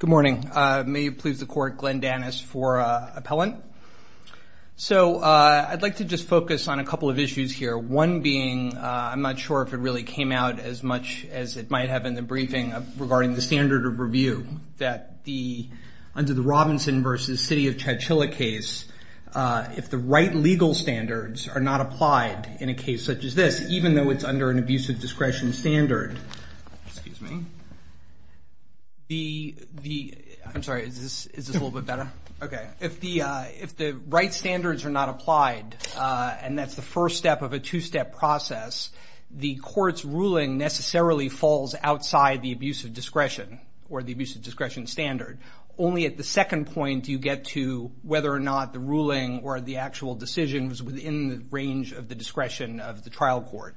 Good morning. May it please the court, Glenn Danis for appellant. So I'd like to just focus on a couple of issues here. One being, I'm not sure if it really came out as much as it might have in the briefing regarding the standard of review that under the Robinson v. City of Chachilla case, if the right legal standards are not applied in a case such as this, even though it's under an abusive discretion standard, excuse me, the, I'm sorry, is this a little bit better? Okay. If the right standards are not applied and that's the first step of a two-step process, the court's ruling necessarily falls outside the abusive discretion or the abusive discretion standard. Only at the second point do you get to whether or not the ruling or the actual decision is within the range of the discretion of the trial court.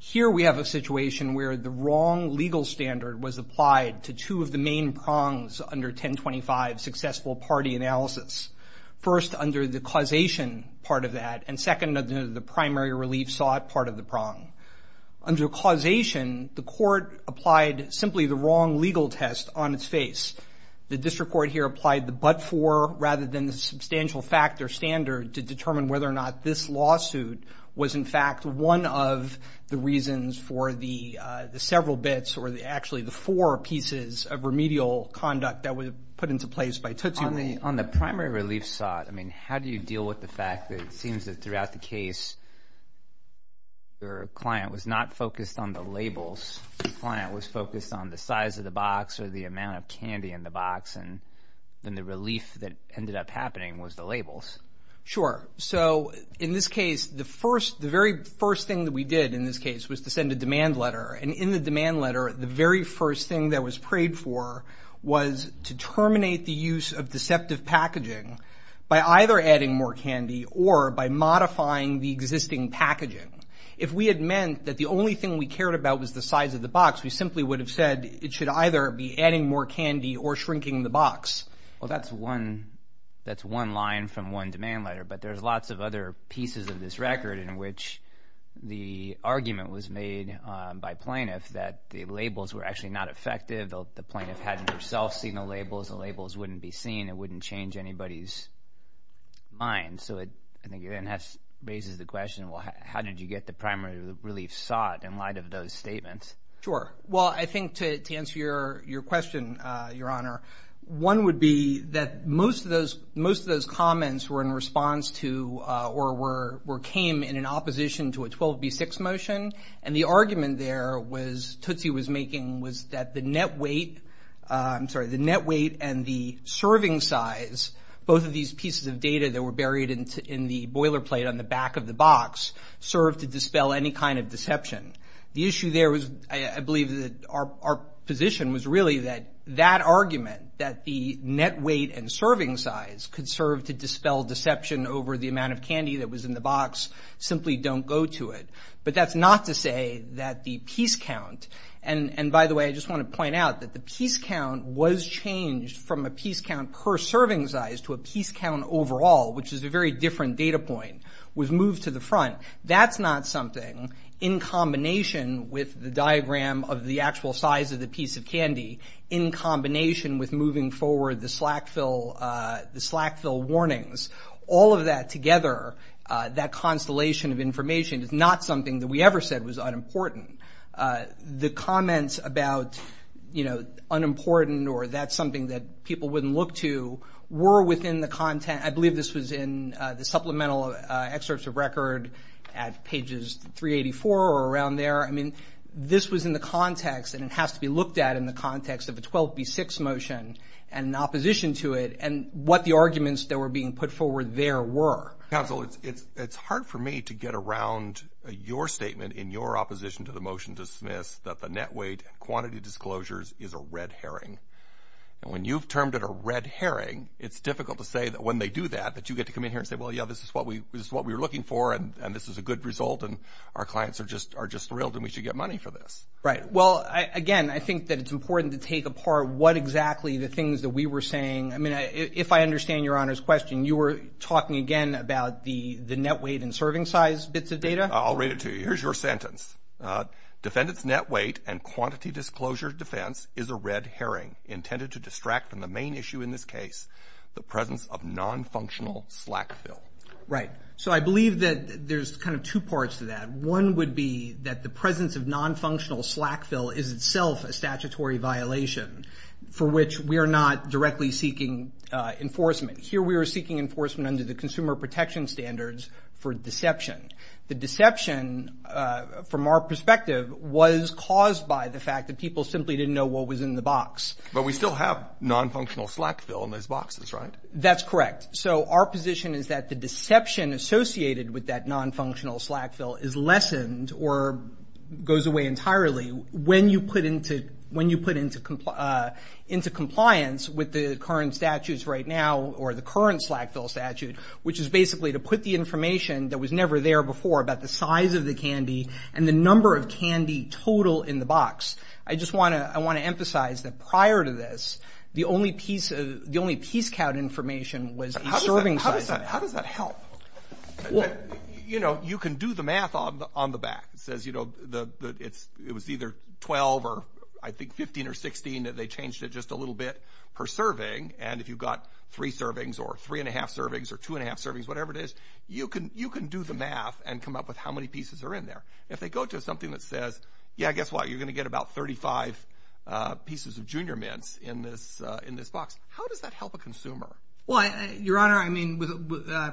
Here we have a situation where the wrong legal standard was applied to two of the main prongs under 1025 successful party analysis. First, under the causation part of that, and second, under the primary relief sought part of the prong. Under causation, the court applied simply the wrong legal test on its face. The district court here applied the but-for rather than the substantial fact or standard to determine whether or not this lawsuit was in fact one of the reasons for the several bits or actually the four pieces of remedial conduct that were put into place by Tutu and Lee. On the primary relief sought, I mean, how do you deal with the fact that it seems that throughout the case, your client was not focused on the labels. The client was focused on the size of the box or the amount of candy in the box, and then the relief that ended up happening was the labels. Sure. So in this case, the very first thing that we did in this case was to send a demand letter, and in the demand letter, the very first thing that was prayed for was to terminate the use of deceptive packaging by either adding more candy or by modifying the existing packaging. If we had meant that the only thing we cared about was the size of the box, we simply would have said it should either be adding more candy or shrinking the box. Well, that's one line from one demand letter, but there's lots of other pieces of this record in which the argument was made by plaintiffs that the labels were actually not effective. The plaintiff hadn't herself seen the labels. The labels wouldn't be seen. It wouldn't change anybody's mind. So I think it then raises the question, well, how did you get the primary relief sought in light of those statements? Sure. Well, I think to answer your question, Your Honor, one would be that most of those comments were in response to or came in opposition to a 12B6 motion, and the argument there was, Tootsie was making, was that the net weight and the serving size, both of these pieces of data that were buried in the boilerplate on the back of the box, served to dispel any kind of deception. The issue there was, I believe, our position was really that that argument, that the net weight and serving size could serve to dispel deception over the amount of candy that was in the box, simply don't go to it. But that's not to say that the piece count, and by the way, I just want to point out that the piece count was changed from a piece count per serving size to a piece count overall, which is a very different data point, was moved to the front. That's not something, in combination with the diagram of the actual size of the piece of candy, in combination with moving forward the slack fill warnings, all of that together, that constellation of information, is not something that we ever said was unimportant. The comments about, you know, unimportant or that's something that people wouldn't look to, were within the content, I believe this was in the supplemental excerpts of record at pages 384 or around there, I mean, this was in the context, and it has to be looked at in the context of a 12B6 motion, and opposition to it, and what the arguments that were being put forward there were. Counsel, it's hard for me to get around your statement in your opposition to the motion to dismiss that the net weight and quantity disclosures is a red herring. And when you've termed it a red herring, it's difficult to say that when they do that, that you get to come in here and say, well, yeah, this is what we were looking for, and this is a good result, and our clients are just thrilled, and we should get money for this. Right, well, again, I think that it's important to take apart what exactly the things that we were saying, I mean, if I understand your Honor's question, you were talking again about the net weight and serving size bits of data? I'll read it to you, here's your sentence. Defendant's net weight and quantity disclosure defense is a red herring, intended to distract from the main issue in this case, the presence of non-functional slack fill. Right, so I believe that there's kind of two parts to that. One would be that the presence of non-functional slack fill is itself a statutory violation for which we are not directly seeking enforcement. Here we are seeking enforcement under the consumer protection standards for deception. The deception, from our perspective, was caused by the fact that people simply didn't know what was in the box. But we still have non-functional slack fill in those boxes, right? That's correct. So our position is that the deception associated with that non-functional slack fill is lessened or goes away entirely when you put into compliance with the current statutes right now, or the current slack fill statute, which is basically to put the information that was never there before about the size of the candy and the number of candy total in the box. I just want to emphasize that prior to this, the only piece count information was the serving size. How does that help? You know, you can do the math on the back. It says, you know, it was either 12 or I think 15 or 16, and they changed it just a little bit per serving. And if you've got three servings or three and a half servings or two and a half servings, whatever it is, you can do the math and come up with how many pieces are in there. If they go to something that says, yeah, guess what? You're going to get about 35 pieces of Junior Mints in this box. How does that help a consumer? Well, Your Honor, I mean,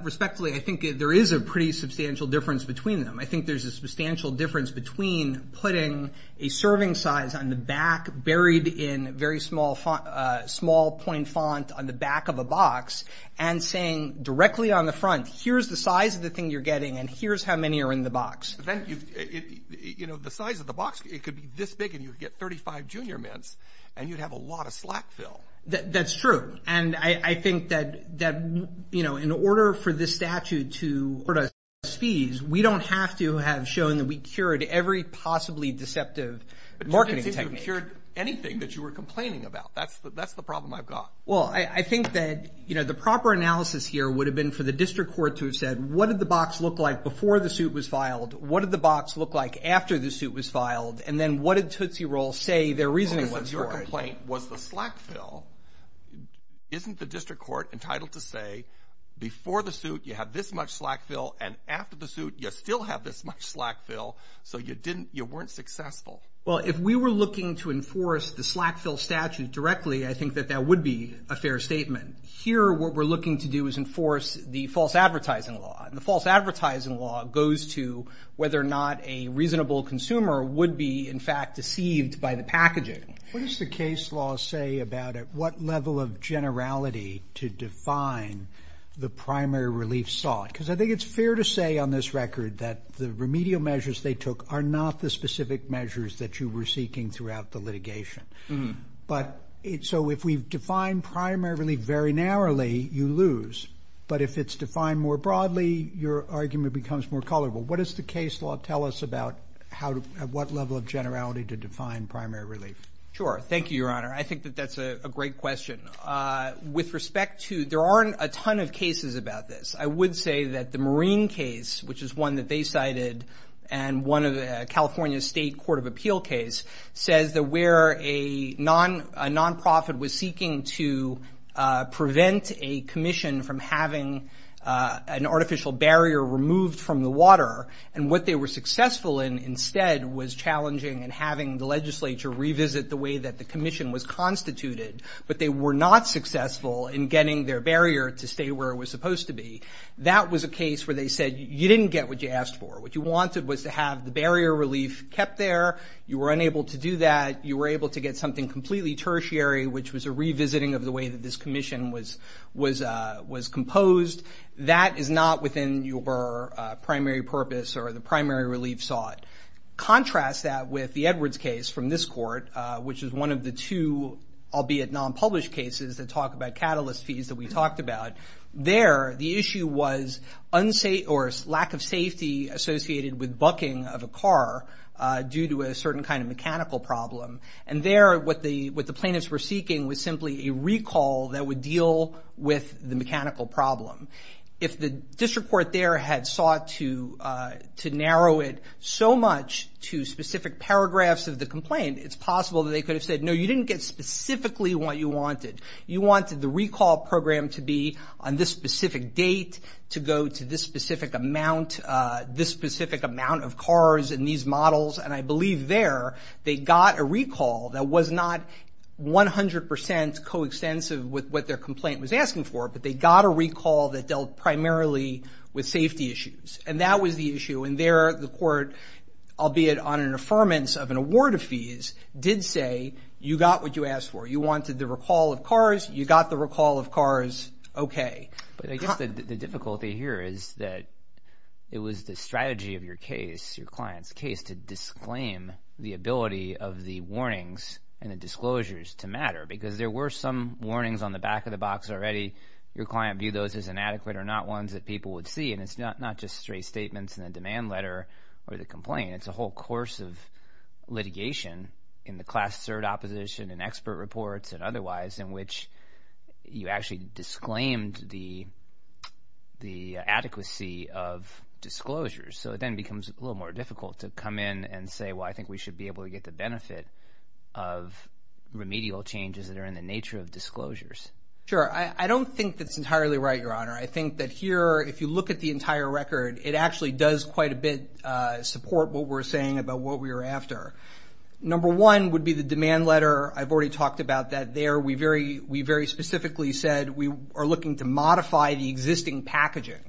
respectfully, I think there is a pretty substantial difference between them. I think there's a substantial difference between putting a serving size on the back buried in very small point font on the back of a box and saying directly on the front, here's the size of the thing you're getting and here's how many are in the box. Then, you know, the size of the box, it could be this big and you'd get 35 Junior Mints and you'd have a lot of slack fill. That's true. And I think that, you know, in order for this statute to afford us fees, we don't have to have shown that we cured every possibly deceptive marketing technique. But you didn't seem to have cured anything that you were complaining about. That's the problem I've got. Well, I think that, you know, the proper analysis here would have been for the district court to have said, what did the box look like before the suit was filed? What did the box look like after the suit was filed? And then what did Tootsie Roll say their reasoning was for? Your complaint was the slack fill. Isn't the district court entitled to say, before the suit, you have this much slack fill, and after the suit, you still have this much slack fill, so you weren't successful? Well, if we were looking to enforce the slack fill statute directly, I think that that would be a fair statement. Here, what we're looking to do is enforce the false advertising law, and the false advertising law goes to whether or not a reasonable consumer would be, in fact, deceived by the packaging. What does the case law say about it? What level of generality to define the primary relief sought? Because I think it's fair to say on this record that the remedial measures they took are not the specific measures that you were seeking throughout the litigation. So if we define primary relief very narrowly, you lose. But if it's defined more broadly, your argument becomes more colorful. What does the case law tell us about at what level of generality to define primary relief? Sure. Thank you, Your Honor. I think that that's a great question. With respect to, there aren't a ton of cases about this. I would say that the Marine case, which is one that they cited, and one of the California State Court of Appeal case, says that where a nonprofit was seeking to prevent a commission from having an artificial barrier removed from the water, and what they were successful in instead was challenging and having the legislature revisit the way that the commission was constituted, but they were not successful in getting their barrier to stay where it was supposed to be. That was a case where they said you didn't get what you asked for. What you wanted was to have the barrier relief kept there. You were unable to do that. You were able to get something completely tertiary, which was a revisiting of the way that this commission was composed. That is not within your primary purpose or the primary relief sought. Contrast that with the Edwards case from this court, which is one of the two, albeit non-published cases, that talk about catalyst fees that we talked about. There, the issue was lack of safety associated with bucking of a car due to a certain kind of mechanical problem, and there what the plaintiffs were seeking was simply a recall that would deal with the mechanical problem. If the district court there had sought to narrow it so much to specific paragraphs of the complaint, it's possible that they could have said, no, you didn't get specifically what you wanted. You wanted the recall program to be on this specific date, to go to this specific amount, this specific amount of cars in these models. And I believe there they got a recall that was not 100% coextensive with what their complaint was asking for, but they got a recall that dealt primarily with safety issues. And that was the issue. And there the court, albeit on an affirmance of an award of fees, did say you got what you asked for. You wanted the recall of cars. You got the recall of cars. Okay. But I guess the difficulty here is that it was the strategy of your case, your client's case, to disclaim the ability of the warnings and the disclosures to matter, because there were some warnings on the back of the box already. Your client viewed those as inadequate or not ones that people would see, and it's not just straight statements in the demand letter or the complaint. I mean, it's a whole course of litigation in the class third opposition and expert reports and otherwise in which you actually disclaimed the adequacy of disclosures. So it then becomes a little more difficult to come in and say, well, I think we should be able to get the benefit of remedial changes that are in the nature of disclosures. Sure. I think that here, if you look at the entire record, it actually does quite a bit support what we're saying about what we were after. Number one would be the demand letter. I've already talked about that there. We very specifically said we are looking to modify the existing packaging.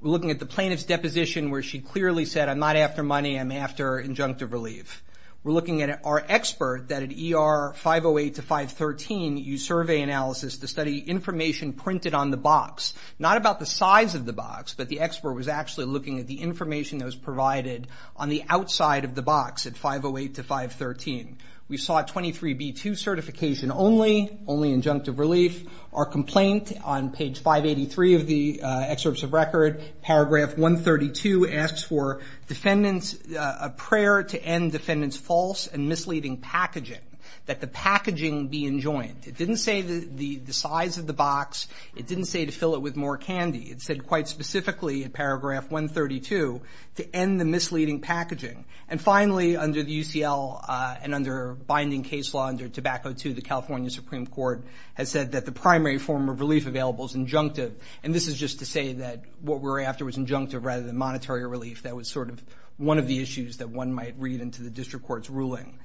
We're looking at the plaintiff's deposition where she clearly said, I'm not after money, I'm after injunctive relief. We're looking at our expert, that at ER 508 to 513, used survey analysis to study information printed on the box, not about the size of the box, but the expert was actually looking at the information that was provided on the outside of the box at 508 to 513. We saw 23B2 certification only, only injunctive relief. Our complaint on page 583 of the excerpts of record, paragraph 132, asks for a prayer to end defendant's false and misleading packaging, that the packaging be enjoined. It didn't say the size of the box. It didn't say to fill it with more candy. It said quite specifically in paragraph 132 to end the misleading packaging. And finally, under the UCL and under binding case law under Tobacco II, the California Supreme Court has said that the primary form of relief available is injunctive, and this is just to say that what we're after was injunctive rather than monetary relief. That was sort of one of the issues that one might read into the district court's ruling.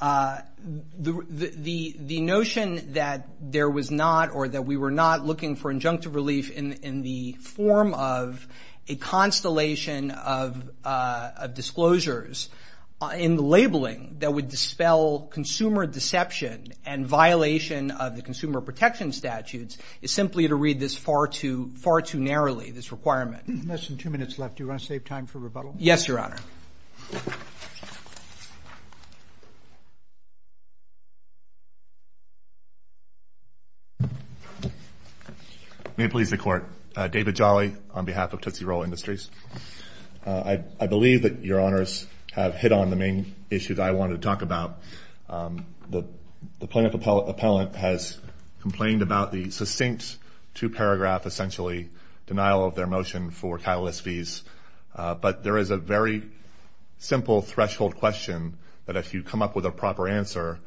The notion that there was not or that we were not looking for injunctive relief in the form of a constellation of disclosures in the labeling that would dispel consumer deception and violation of the consumer protection statutes is simply to read this far too narrowly, this requirement. There's less than two minutes left. Do you want to save time for rebuttal? Yes, Your Honor. May it please the Court. David Jolly on behalf of Tootsie Roll Industries. I believe that Your Honors have hit on the main issue that I wanted to talk about. The plaintiff appellant has complained about the succinct two-paragraph, essentially, denial of their motion for catalyst fees. But there is a very simple threshold question that if you come up with a proper answer,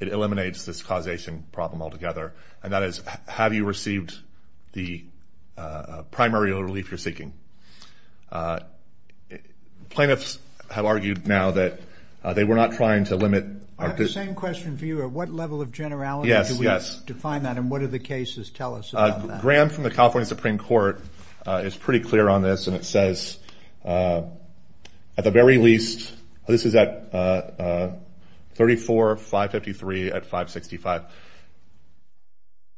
it eliminates this causation problem altogether, and that is, have you received the primary relief you're seeking? Plaintiffs have argued now that they were not trying to limit. I have the same question for you. At what level of generality do we define that, and what do the cases tell us about that? A grant from the California Supreme Court is pretty clear on this, and it says, at the very least, this is at 34553 at 565,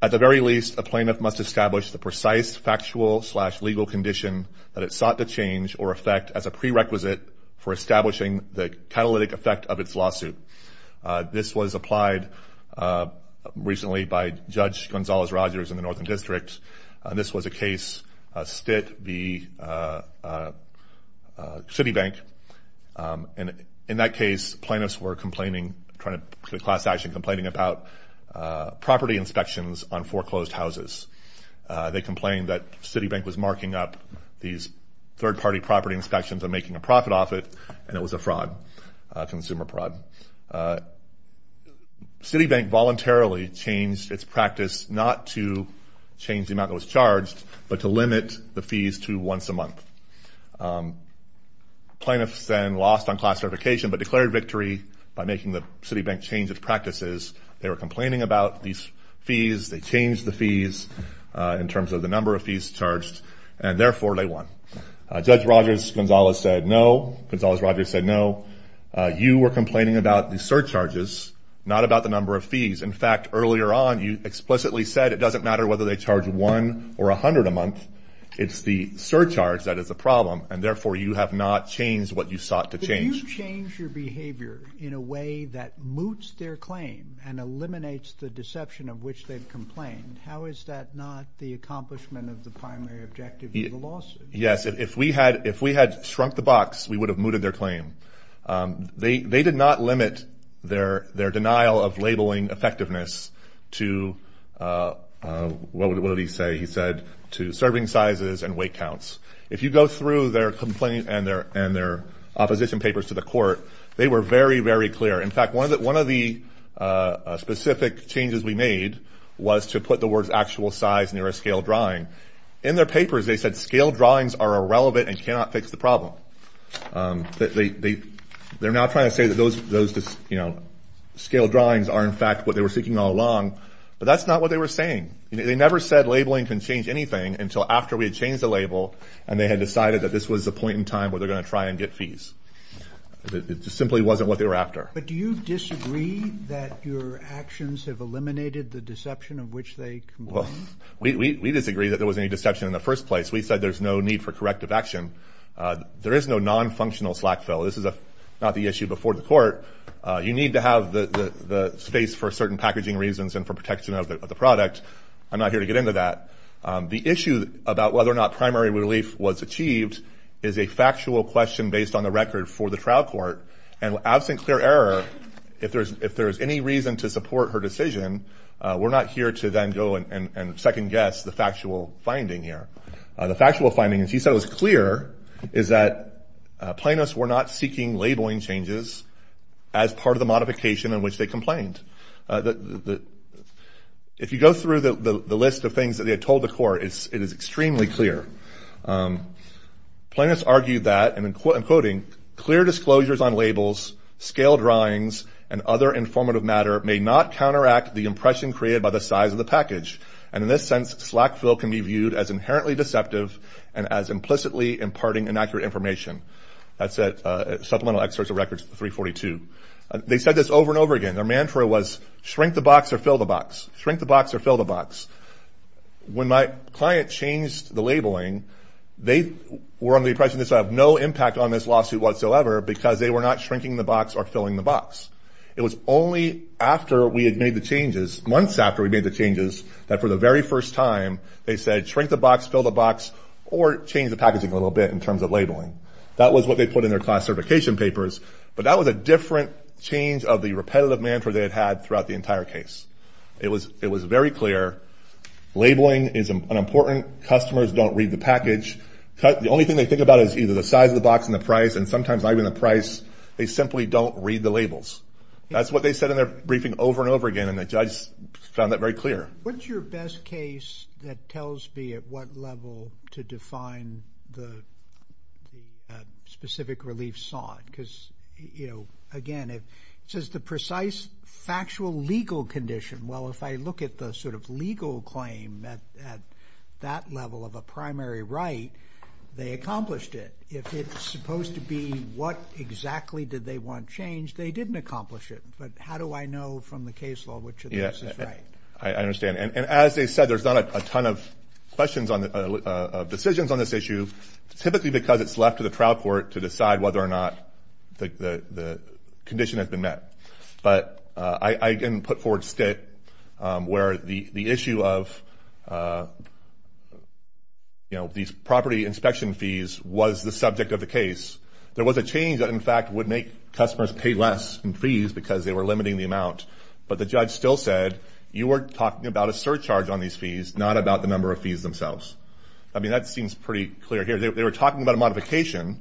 at the very least a plaintiff must establish the precise factual slash legal condition that it sought to change or affect as a prerequisite for establishing the catalytic effect of its lawsuit. This was applied recently by Judge Gonzalez Rogers in the Northern District, and this was a case, Stitt v. Citibank. In that case, plaintiffs were complaining, trying to put a class action, complaining about property inspections on foreclosed houses. They complained that Citibank was marking up these third-party property inspections and making a profit off it, and it was a fraud, a consumer fraud. Citibank voluntarily changed its practice not to change the amount that was charged, but to limit the fees to once a month. Plaintiffs then lost on class certification but declared victory by making the Citibank change its practices. They were complaining about these fees. They changed the fees in terms of the number of fees charged, and therefore they won. Judge Rogers, Gonzalez said no. Gonzalez Rogers said no. You were complaining about the surcharges, not about the number of fees. In fact, earlier on you explicitly said it doesn't matter whether they charge one or a hundred a month. It's the surcharge that is the problem, and therefore you have not changed what you sought to change. Did you change your behavior in a way that moots their claim and eliminates the deception of which they've complained? How is that not the accomplishment of the primary objective of the lawsuit? Yes, if we had shrunk the box, we would have mooted their claim. They did not limit their denial of labeling effectiveness to what would he say? He said to serving sizes and weight counts. If you go through their complaint and their opposition papers to the court, they were very, very clear. In fact, one of the specific changes we made was to put the words actual size near a scale drawing. In their papers, they said scale drawings are irrelevant and cannot fix the problem. They're now trying to say that those scale drawings are in fact what they were seeking all along, but that's not what they were saying. They never said labeling can change anything until after we had changed the label and they had decided that this was the point in time where they're going to try and get fees. It just simply wasn't what they were after. But do you disagree that your actions have eliminated the deception of which they complained? Well, we disagree that there was any deception in the first place. We said there's no need for corrective action. There is no non-functional slack fill. This is not the issue before the court. You need to have the space for certain packaging reasons and for protection of the product. I'm not here to get into that. The issue about whether or not primary relief was achieved is a factual question based on the record for the trial court. And absent clear error, if there is any reason to support her decision, we're not here to then go and second-guess the factual finding here. The factual finding, as you said, was clear, is that plaintiffs were not seeking labeling changes as part of the modification in which they complained. If you go through the list of things that they had told the court, it is extremely clear. Plaintiffs argued that, and I'm quoting, clear disclosures on labels, scale drawings, and other informative matter may not counteract the impression created by the size of the package. And in this sense, slack fill can be viewed as inherently deceptive and as implicitly imparting inaccurate information. That's at supplemental excerpts of records 342. They said this over and over again. Their mantra was shrink the box or fill the box, shrink the box or fill the box. When my client changed the labeling, they were under the impression this would have no impact on this lawsuit whatsoever because they were not shrinking the box or filling the box. It was only after we had made the changes, months after we made the changes, that for the very first time they said shrink the box, fill the box, or change the packaging a little bit in terms of labeling. That was what they put in their classification papers, but that was a different change of the repetitive mantra they had had throughout the entire case. It was very clear labeling is unimportant. Customers don't read the package. The only thing they think about is either the size of the box and the price, and sometimes not even the price. They simply don't read the labels. That's what they said in their briefing over and over again, and the judge found that very clear. What's your best case that tells me at what level to define the specific relief sought? Because, you know, again, it says the precise factual legal condition. Well, if I look at the sort of legal claim at that level of a primary right, they accomplished it. If it's supposed to be what exactly did they want changed, they didn't accomplish it. But how do I know from the case law which of the two is right? I understand. And as they said, there's not a ton of decisions on this issue, typically because it's left to the trial court to decide whether or not the condition has been met. But I can put forward a state where the issue of, you know, these property inspection fees was the subject of the case. There was a change that, in fact, would make customers pay less in fees because they were limiting the amount, but the judge still said you were talking about a surcharge on these fees, not about the number of fees themselves. I mean, that seems pretty clear here. They were talking about a modification,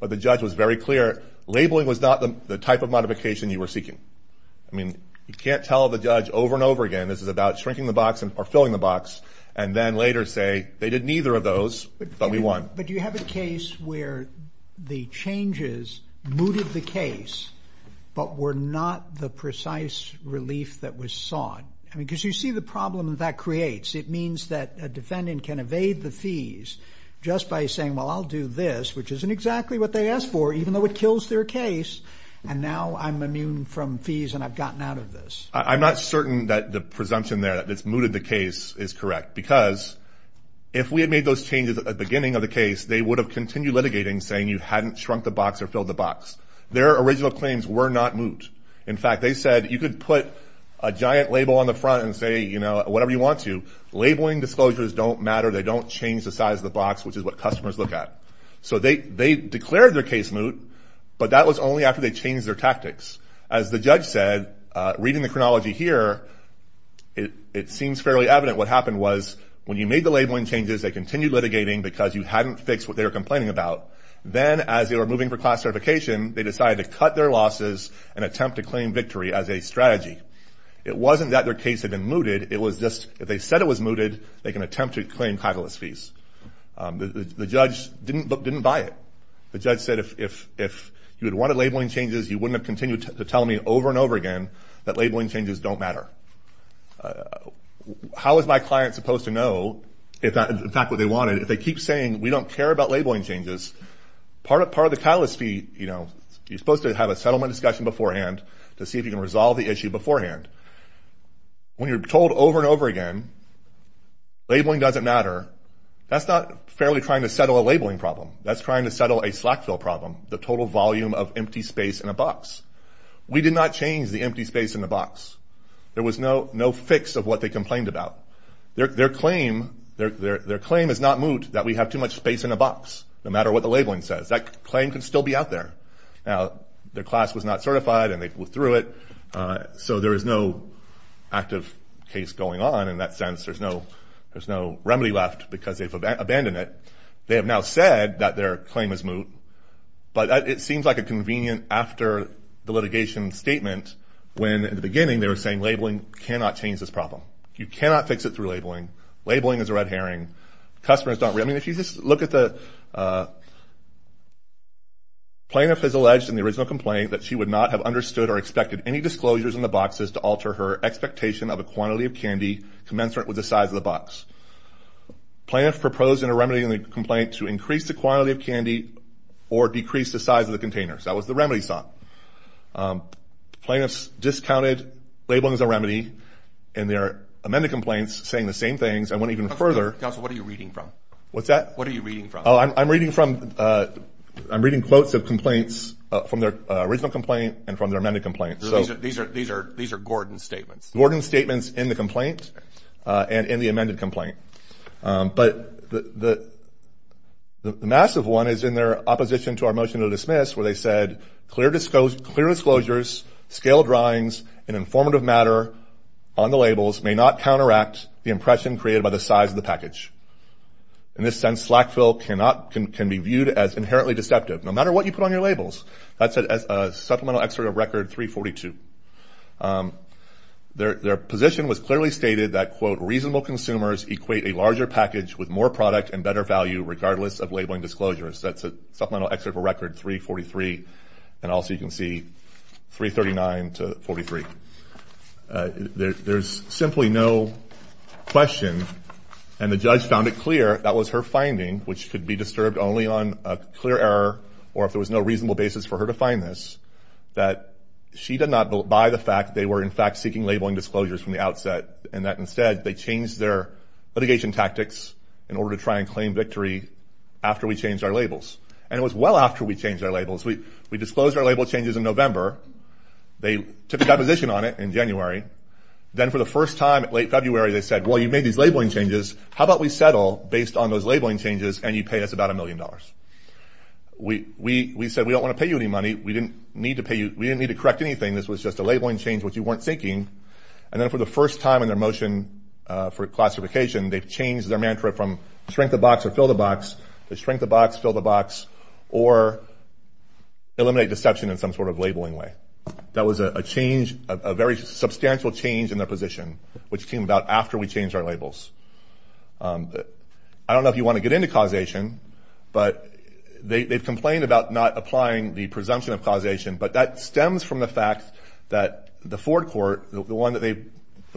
but the judge was very clear. Labeling was not the type of modification you were seeking. I mean, you can't tell the judge over and over again this is about shrinking the box or filling the box and then later say they did neither of those, but we won. But do you have a case where the changes mooted the case but were not the precise relief that was sought? Because you see the problem that that creates. It means that a defendant can evade the fees just by saying, well, I'll do this, which isn't exactly what they asked for, even though it kills their case, and now I'm immune from fees and I've gotten out of this. I'm not certain that the presumption there that it's mooted the case is correct because if we had made those changes at the beginning of the case, they would have continued litigating saying you hadn't shrunk the box or filled the box. Their original claims were not moot. In fact, they said you could put a giant label on the front and say whatever you want to. Labeling disclosures don't matter. They don't change the size of the box, which is what customers look at. So they declared their case moot, but that was only after they changed their tactics. As the judge said, reading the chronology here, it seems fairly evident what happened was when you made the labeling changes, they continued litigating because you hadn't fixed what they were complaining about. Then as they were moving for class certification, they decided to cut their losses and attempt to claim victory as a strategy. It wasn't that their case had been mooted. It was just if they said it was mooted, they can attempt to claim catalyst fees. The judge didn't buy it. The judge said if you had wanted labeling changes, you wouldn't have continued to tell me over and over again that labeling changes don't matter. How is my client supposed to know, in fact, what they wanted? If they keep saying we don't care about labeling changes, part of the catalyst fee, you're supposed to have a settlement discussion beforehand to see if you can resolve the issue beforehand. When you're told over and over again, labeling doesn't matter, that's not fairly trying to settle a labeling problem. That's trying to settle a slack fill problem, the total volume of empty space in a box. We did not change the empty space in the box. There was no fix of what they complained about. That claim could still be out there. Now, their class was not certified and they withdrew it, so there is no active case going on in that sense. There's no remedy left because they've abandoned it. They have now said that their claim is moot, but it seems like a convenient after the litigation statement when in the beginning they were saying labeling cannot change this problem. You cannot fix it through labeling. Labeling is a red herring. I mean, if you just look at the plaintiff has alleged in the original complaint that she would not have understood or expected any disclosures in the boxes to alter her expectation of a quantity of candy commensurate with the size of the box. Plaintiff proposed a remedy in the complaint to increase the quantity of candy or decrease the size of the containers. That was the remedy sought. Plaintiff discounted labeling as a remedy and their amended complaints saying the same things. I went even further. Counsel, what are you reading from? What's that? What are you reading from? I'm reading quotes of complaints from their original complaint and from their amended complaint. These are Gordon's statements. Gordon's statements in the complaint and in the amended complaint. But the massive one is in their opposition to our motion to dismiss where they said clear disclosures, scale drawings, and informative matter on the labels may not counteract the impression created by the size of the package. In this sense, slack fill can be viewed as inherently deceptive, no matter what you put on your labels. That's a supplemental excerpt of record 342. Their position was clearly stated that, quote, reasonable consumers equate a larger package with more product and better value regardless of labeling disclosures. That's a supplemental excerpt of record 343. And also you can see 339 to 43. There's simply no question, and the judge found it clear that was her finding, which could be disturbed only on a clear error or if there was no reasonable basis for her to find this, that she did not buy the fact they were, in fact, seeking labeling disclosures from the outset and that instead they changed their litigation tactics in order to try and claim victory after we changed our labels. And it was well after we changed our labels. We disclosed our label changes in November. They took a deposition on it in January. Then for the first time in late February, they said, well, you made these labeling changes. How about we settle based on those labeling changes and you pay us about a million dollars? We said we don't want to pay you any money. We didn't need to correct anything. This was just a labeling change which you weren't seeking. And then for the first time in their motion for classification, they've changed their mantra from shrink the box or fill the box to shrink the box, fill the box, or eliminate deception in some sort of labeling way. That was a change, a very substantial change in their position which came about after we changed our labels. I don't know if you want to get into causation, but they've complained about not applying the presumption of causation, but that stems from the fact that the Ford Court, the one that they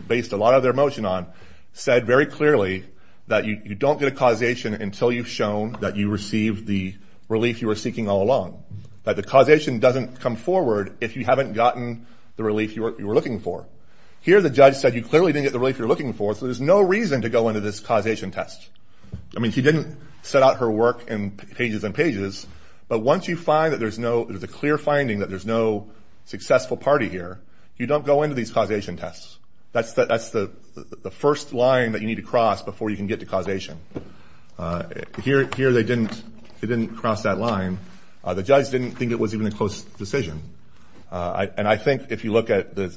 based a lot of their motion on, said very clearly that you don't get a causation until you've shown that you received the relief you were seeking all along, that the causation doesn't come forward if you haven't gotten the relief you were looking for. Here the judge said you clearly didn't get the relief you were looking for, so there's no reason to go into this causation test. I mean, she didn't set out her work in pages and pages, but once you find that there's a clear finding that there's no successful party here, you don't go into these causation tests. That's the first line that you need to cross before you can get to causation. Here they didn't cross that line. The judge didn't think it was even a close decision. And I think if you look at the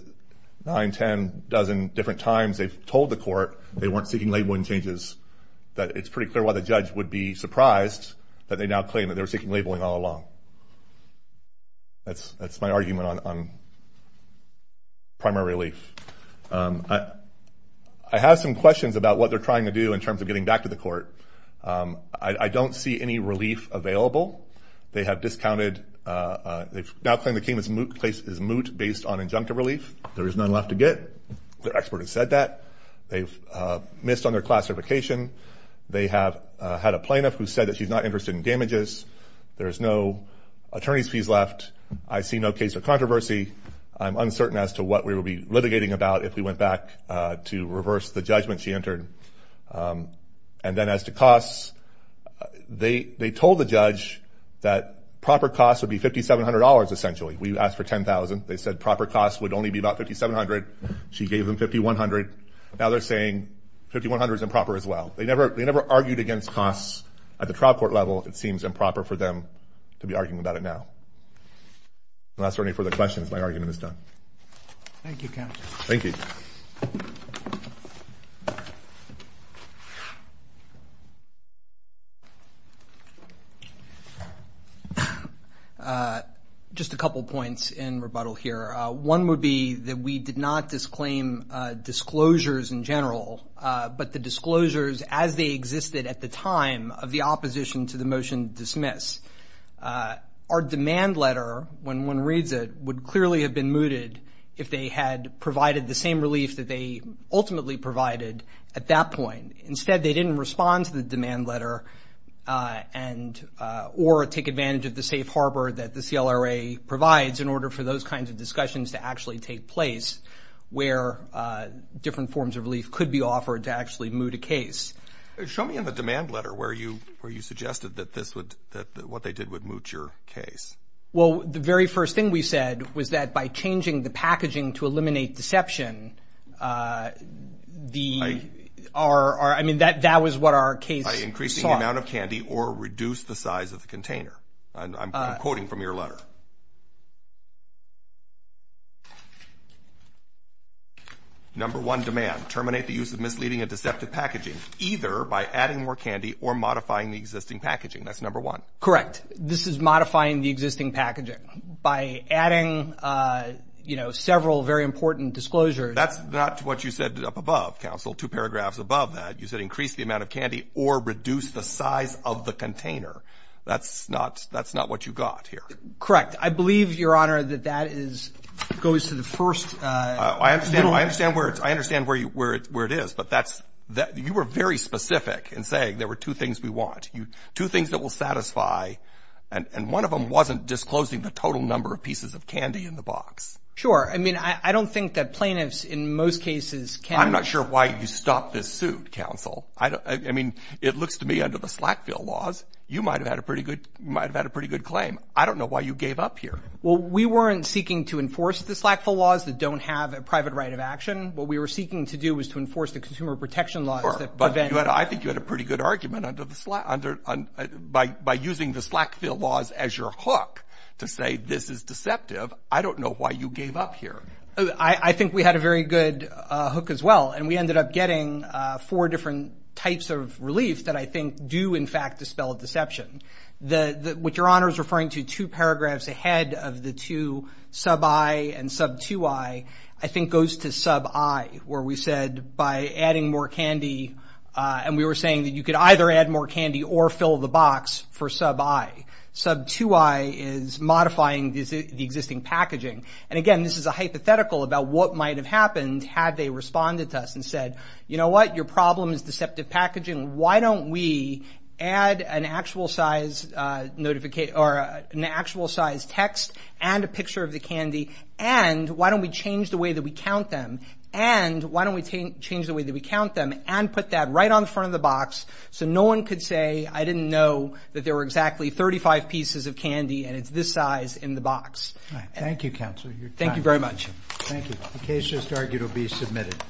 9, 10 dozen different times they've told the court they weren't seeking labeling changes, that it's pretty clear why the judge would be surprised that they now claim that they were seeking labeling all along. That's my argument on primary relief. I have some questions about what they're trying to do in terms of getting back to the court. I don't see any relief available. They have discounted... They now claim the case is moot based on injunctive relief. There is none left to get. Their expert has said that. They've missed on their class certification. They have had a plaintiff who said that she's not interested in damages. There's no attorney's fees left. I see no case of controversy. I'm uncertain as to what we will be litigating about if we went back to reverse the judgment she entered. And then as to costs, they told the judge that proper costs would be $5,700 essentially. We asked for $10,000. They said proper costs would only be about $5,700. She gave them $5,100. Now they're saying $5,100 is improper as well. They never argued against costs at the trial court level, it seems improper for them to be arguing about it now. Unless there are any further questions, my argument is done. Thank you, Counsel. Thank you. Just a couple points in rebuttal here. One would be that we did not disclaim disclosures in general, but the disclosures as they existed at the time of the opposition to the motion to dismiss. Our demand letter, when one reads it, would clearly have been mooted if they had provided the same relief that they ultimately provided at that point. Instead, they didn't respond to the demand letter or take advantage of the safe harbor that the CLRA provides in order for those kinds of discussions to actually take place where different forms of relief could be offered to actually moot a case. Show me in the demand letter where you suggested that what they did would moot your case. Well, the very first thing we said was that by changing the packaging to eliminate deception, that was what our case sought. By increasing the amount of candy or reduce the size of the container. I'm quoting from your letter. What? Number one, demand. Terminate the use of misleading and deceptive packaging, either by adding more candy or modifying the existing packaging. That's number one. Correct. This is modifying the existing packaging. By adding, you know, several very important disclosures. That's not what you said up above, counsel, two paragraphs above that. You said increase the amount of candy or reduce the size of the container. That's not what you got here. Correct. I believe, Your Honor, that that goes to the first. I understand where it is. But you were very specific in saying there were two things we want, two things that will satisfy. And one of them wasn't disclosing the total number of pieces of candy in the box. Sure. I mean, I don't think that plaintiffs in most cases can. I'm not sure why you stopped this suit, counsel. I mean, it looks to me under the Slackville laws, you might have had a pretty good claim. I don't know why you gave up here. Well, we weren't seeking to enforce the Slackville laws that don't have a private right of action. What we were seeking to do was to enforce the consumer protection laws that prevent. Sure. But I think you had a pretty good argument by using the Slackville laws as your hook to say this is deceptive. I don't know why you gave up here. I think we had a very good hook as well. And we ended up getting four different types of relief that I think do, in fact, dispel deception. What Your Honor is referring to, two paragraphs ahead of the two, sub I and sub 2I, I think goes to sub I, where we said by adding more candy, and we were saying that you could either add more candy or fill the box for sub I. Sub 2I is modifying the existing packaging. And again, this is a hypothetical about what might have happened had they responded to us and said, you know what, your problem is deceptive packaging. Why don't we add an actual size text and a picture of the candy, and why don't we change the way that we count them, and why don't we change the way that we count them, and put that right on the front of the box so no one could say I didn't know that there were exactly 35 pieces of candy and it's this size in the box. Thank you, Counselor. Thank you very much. Thank you. The case is argued to be submitted.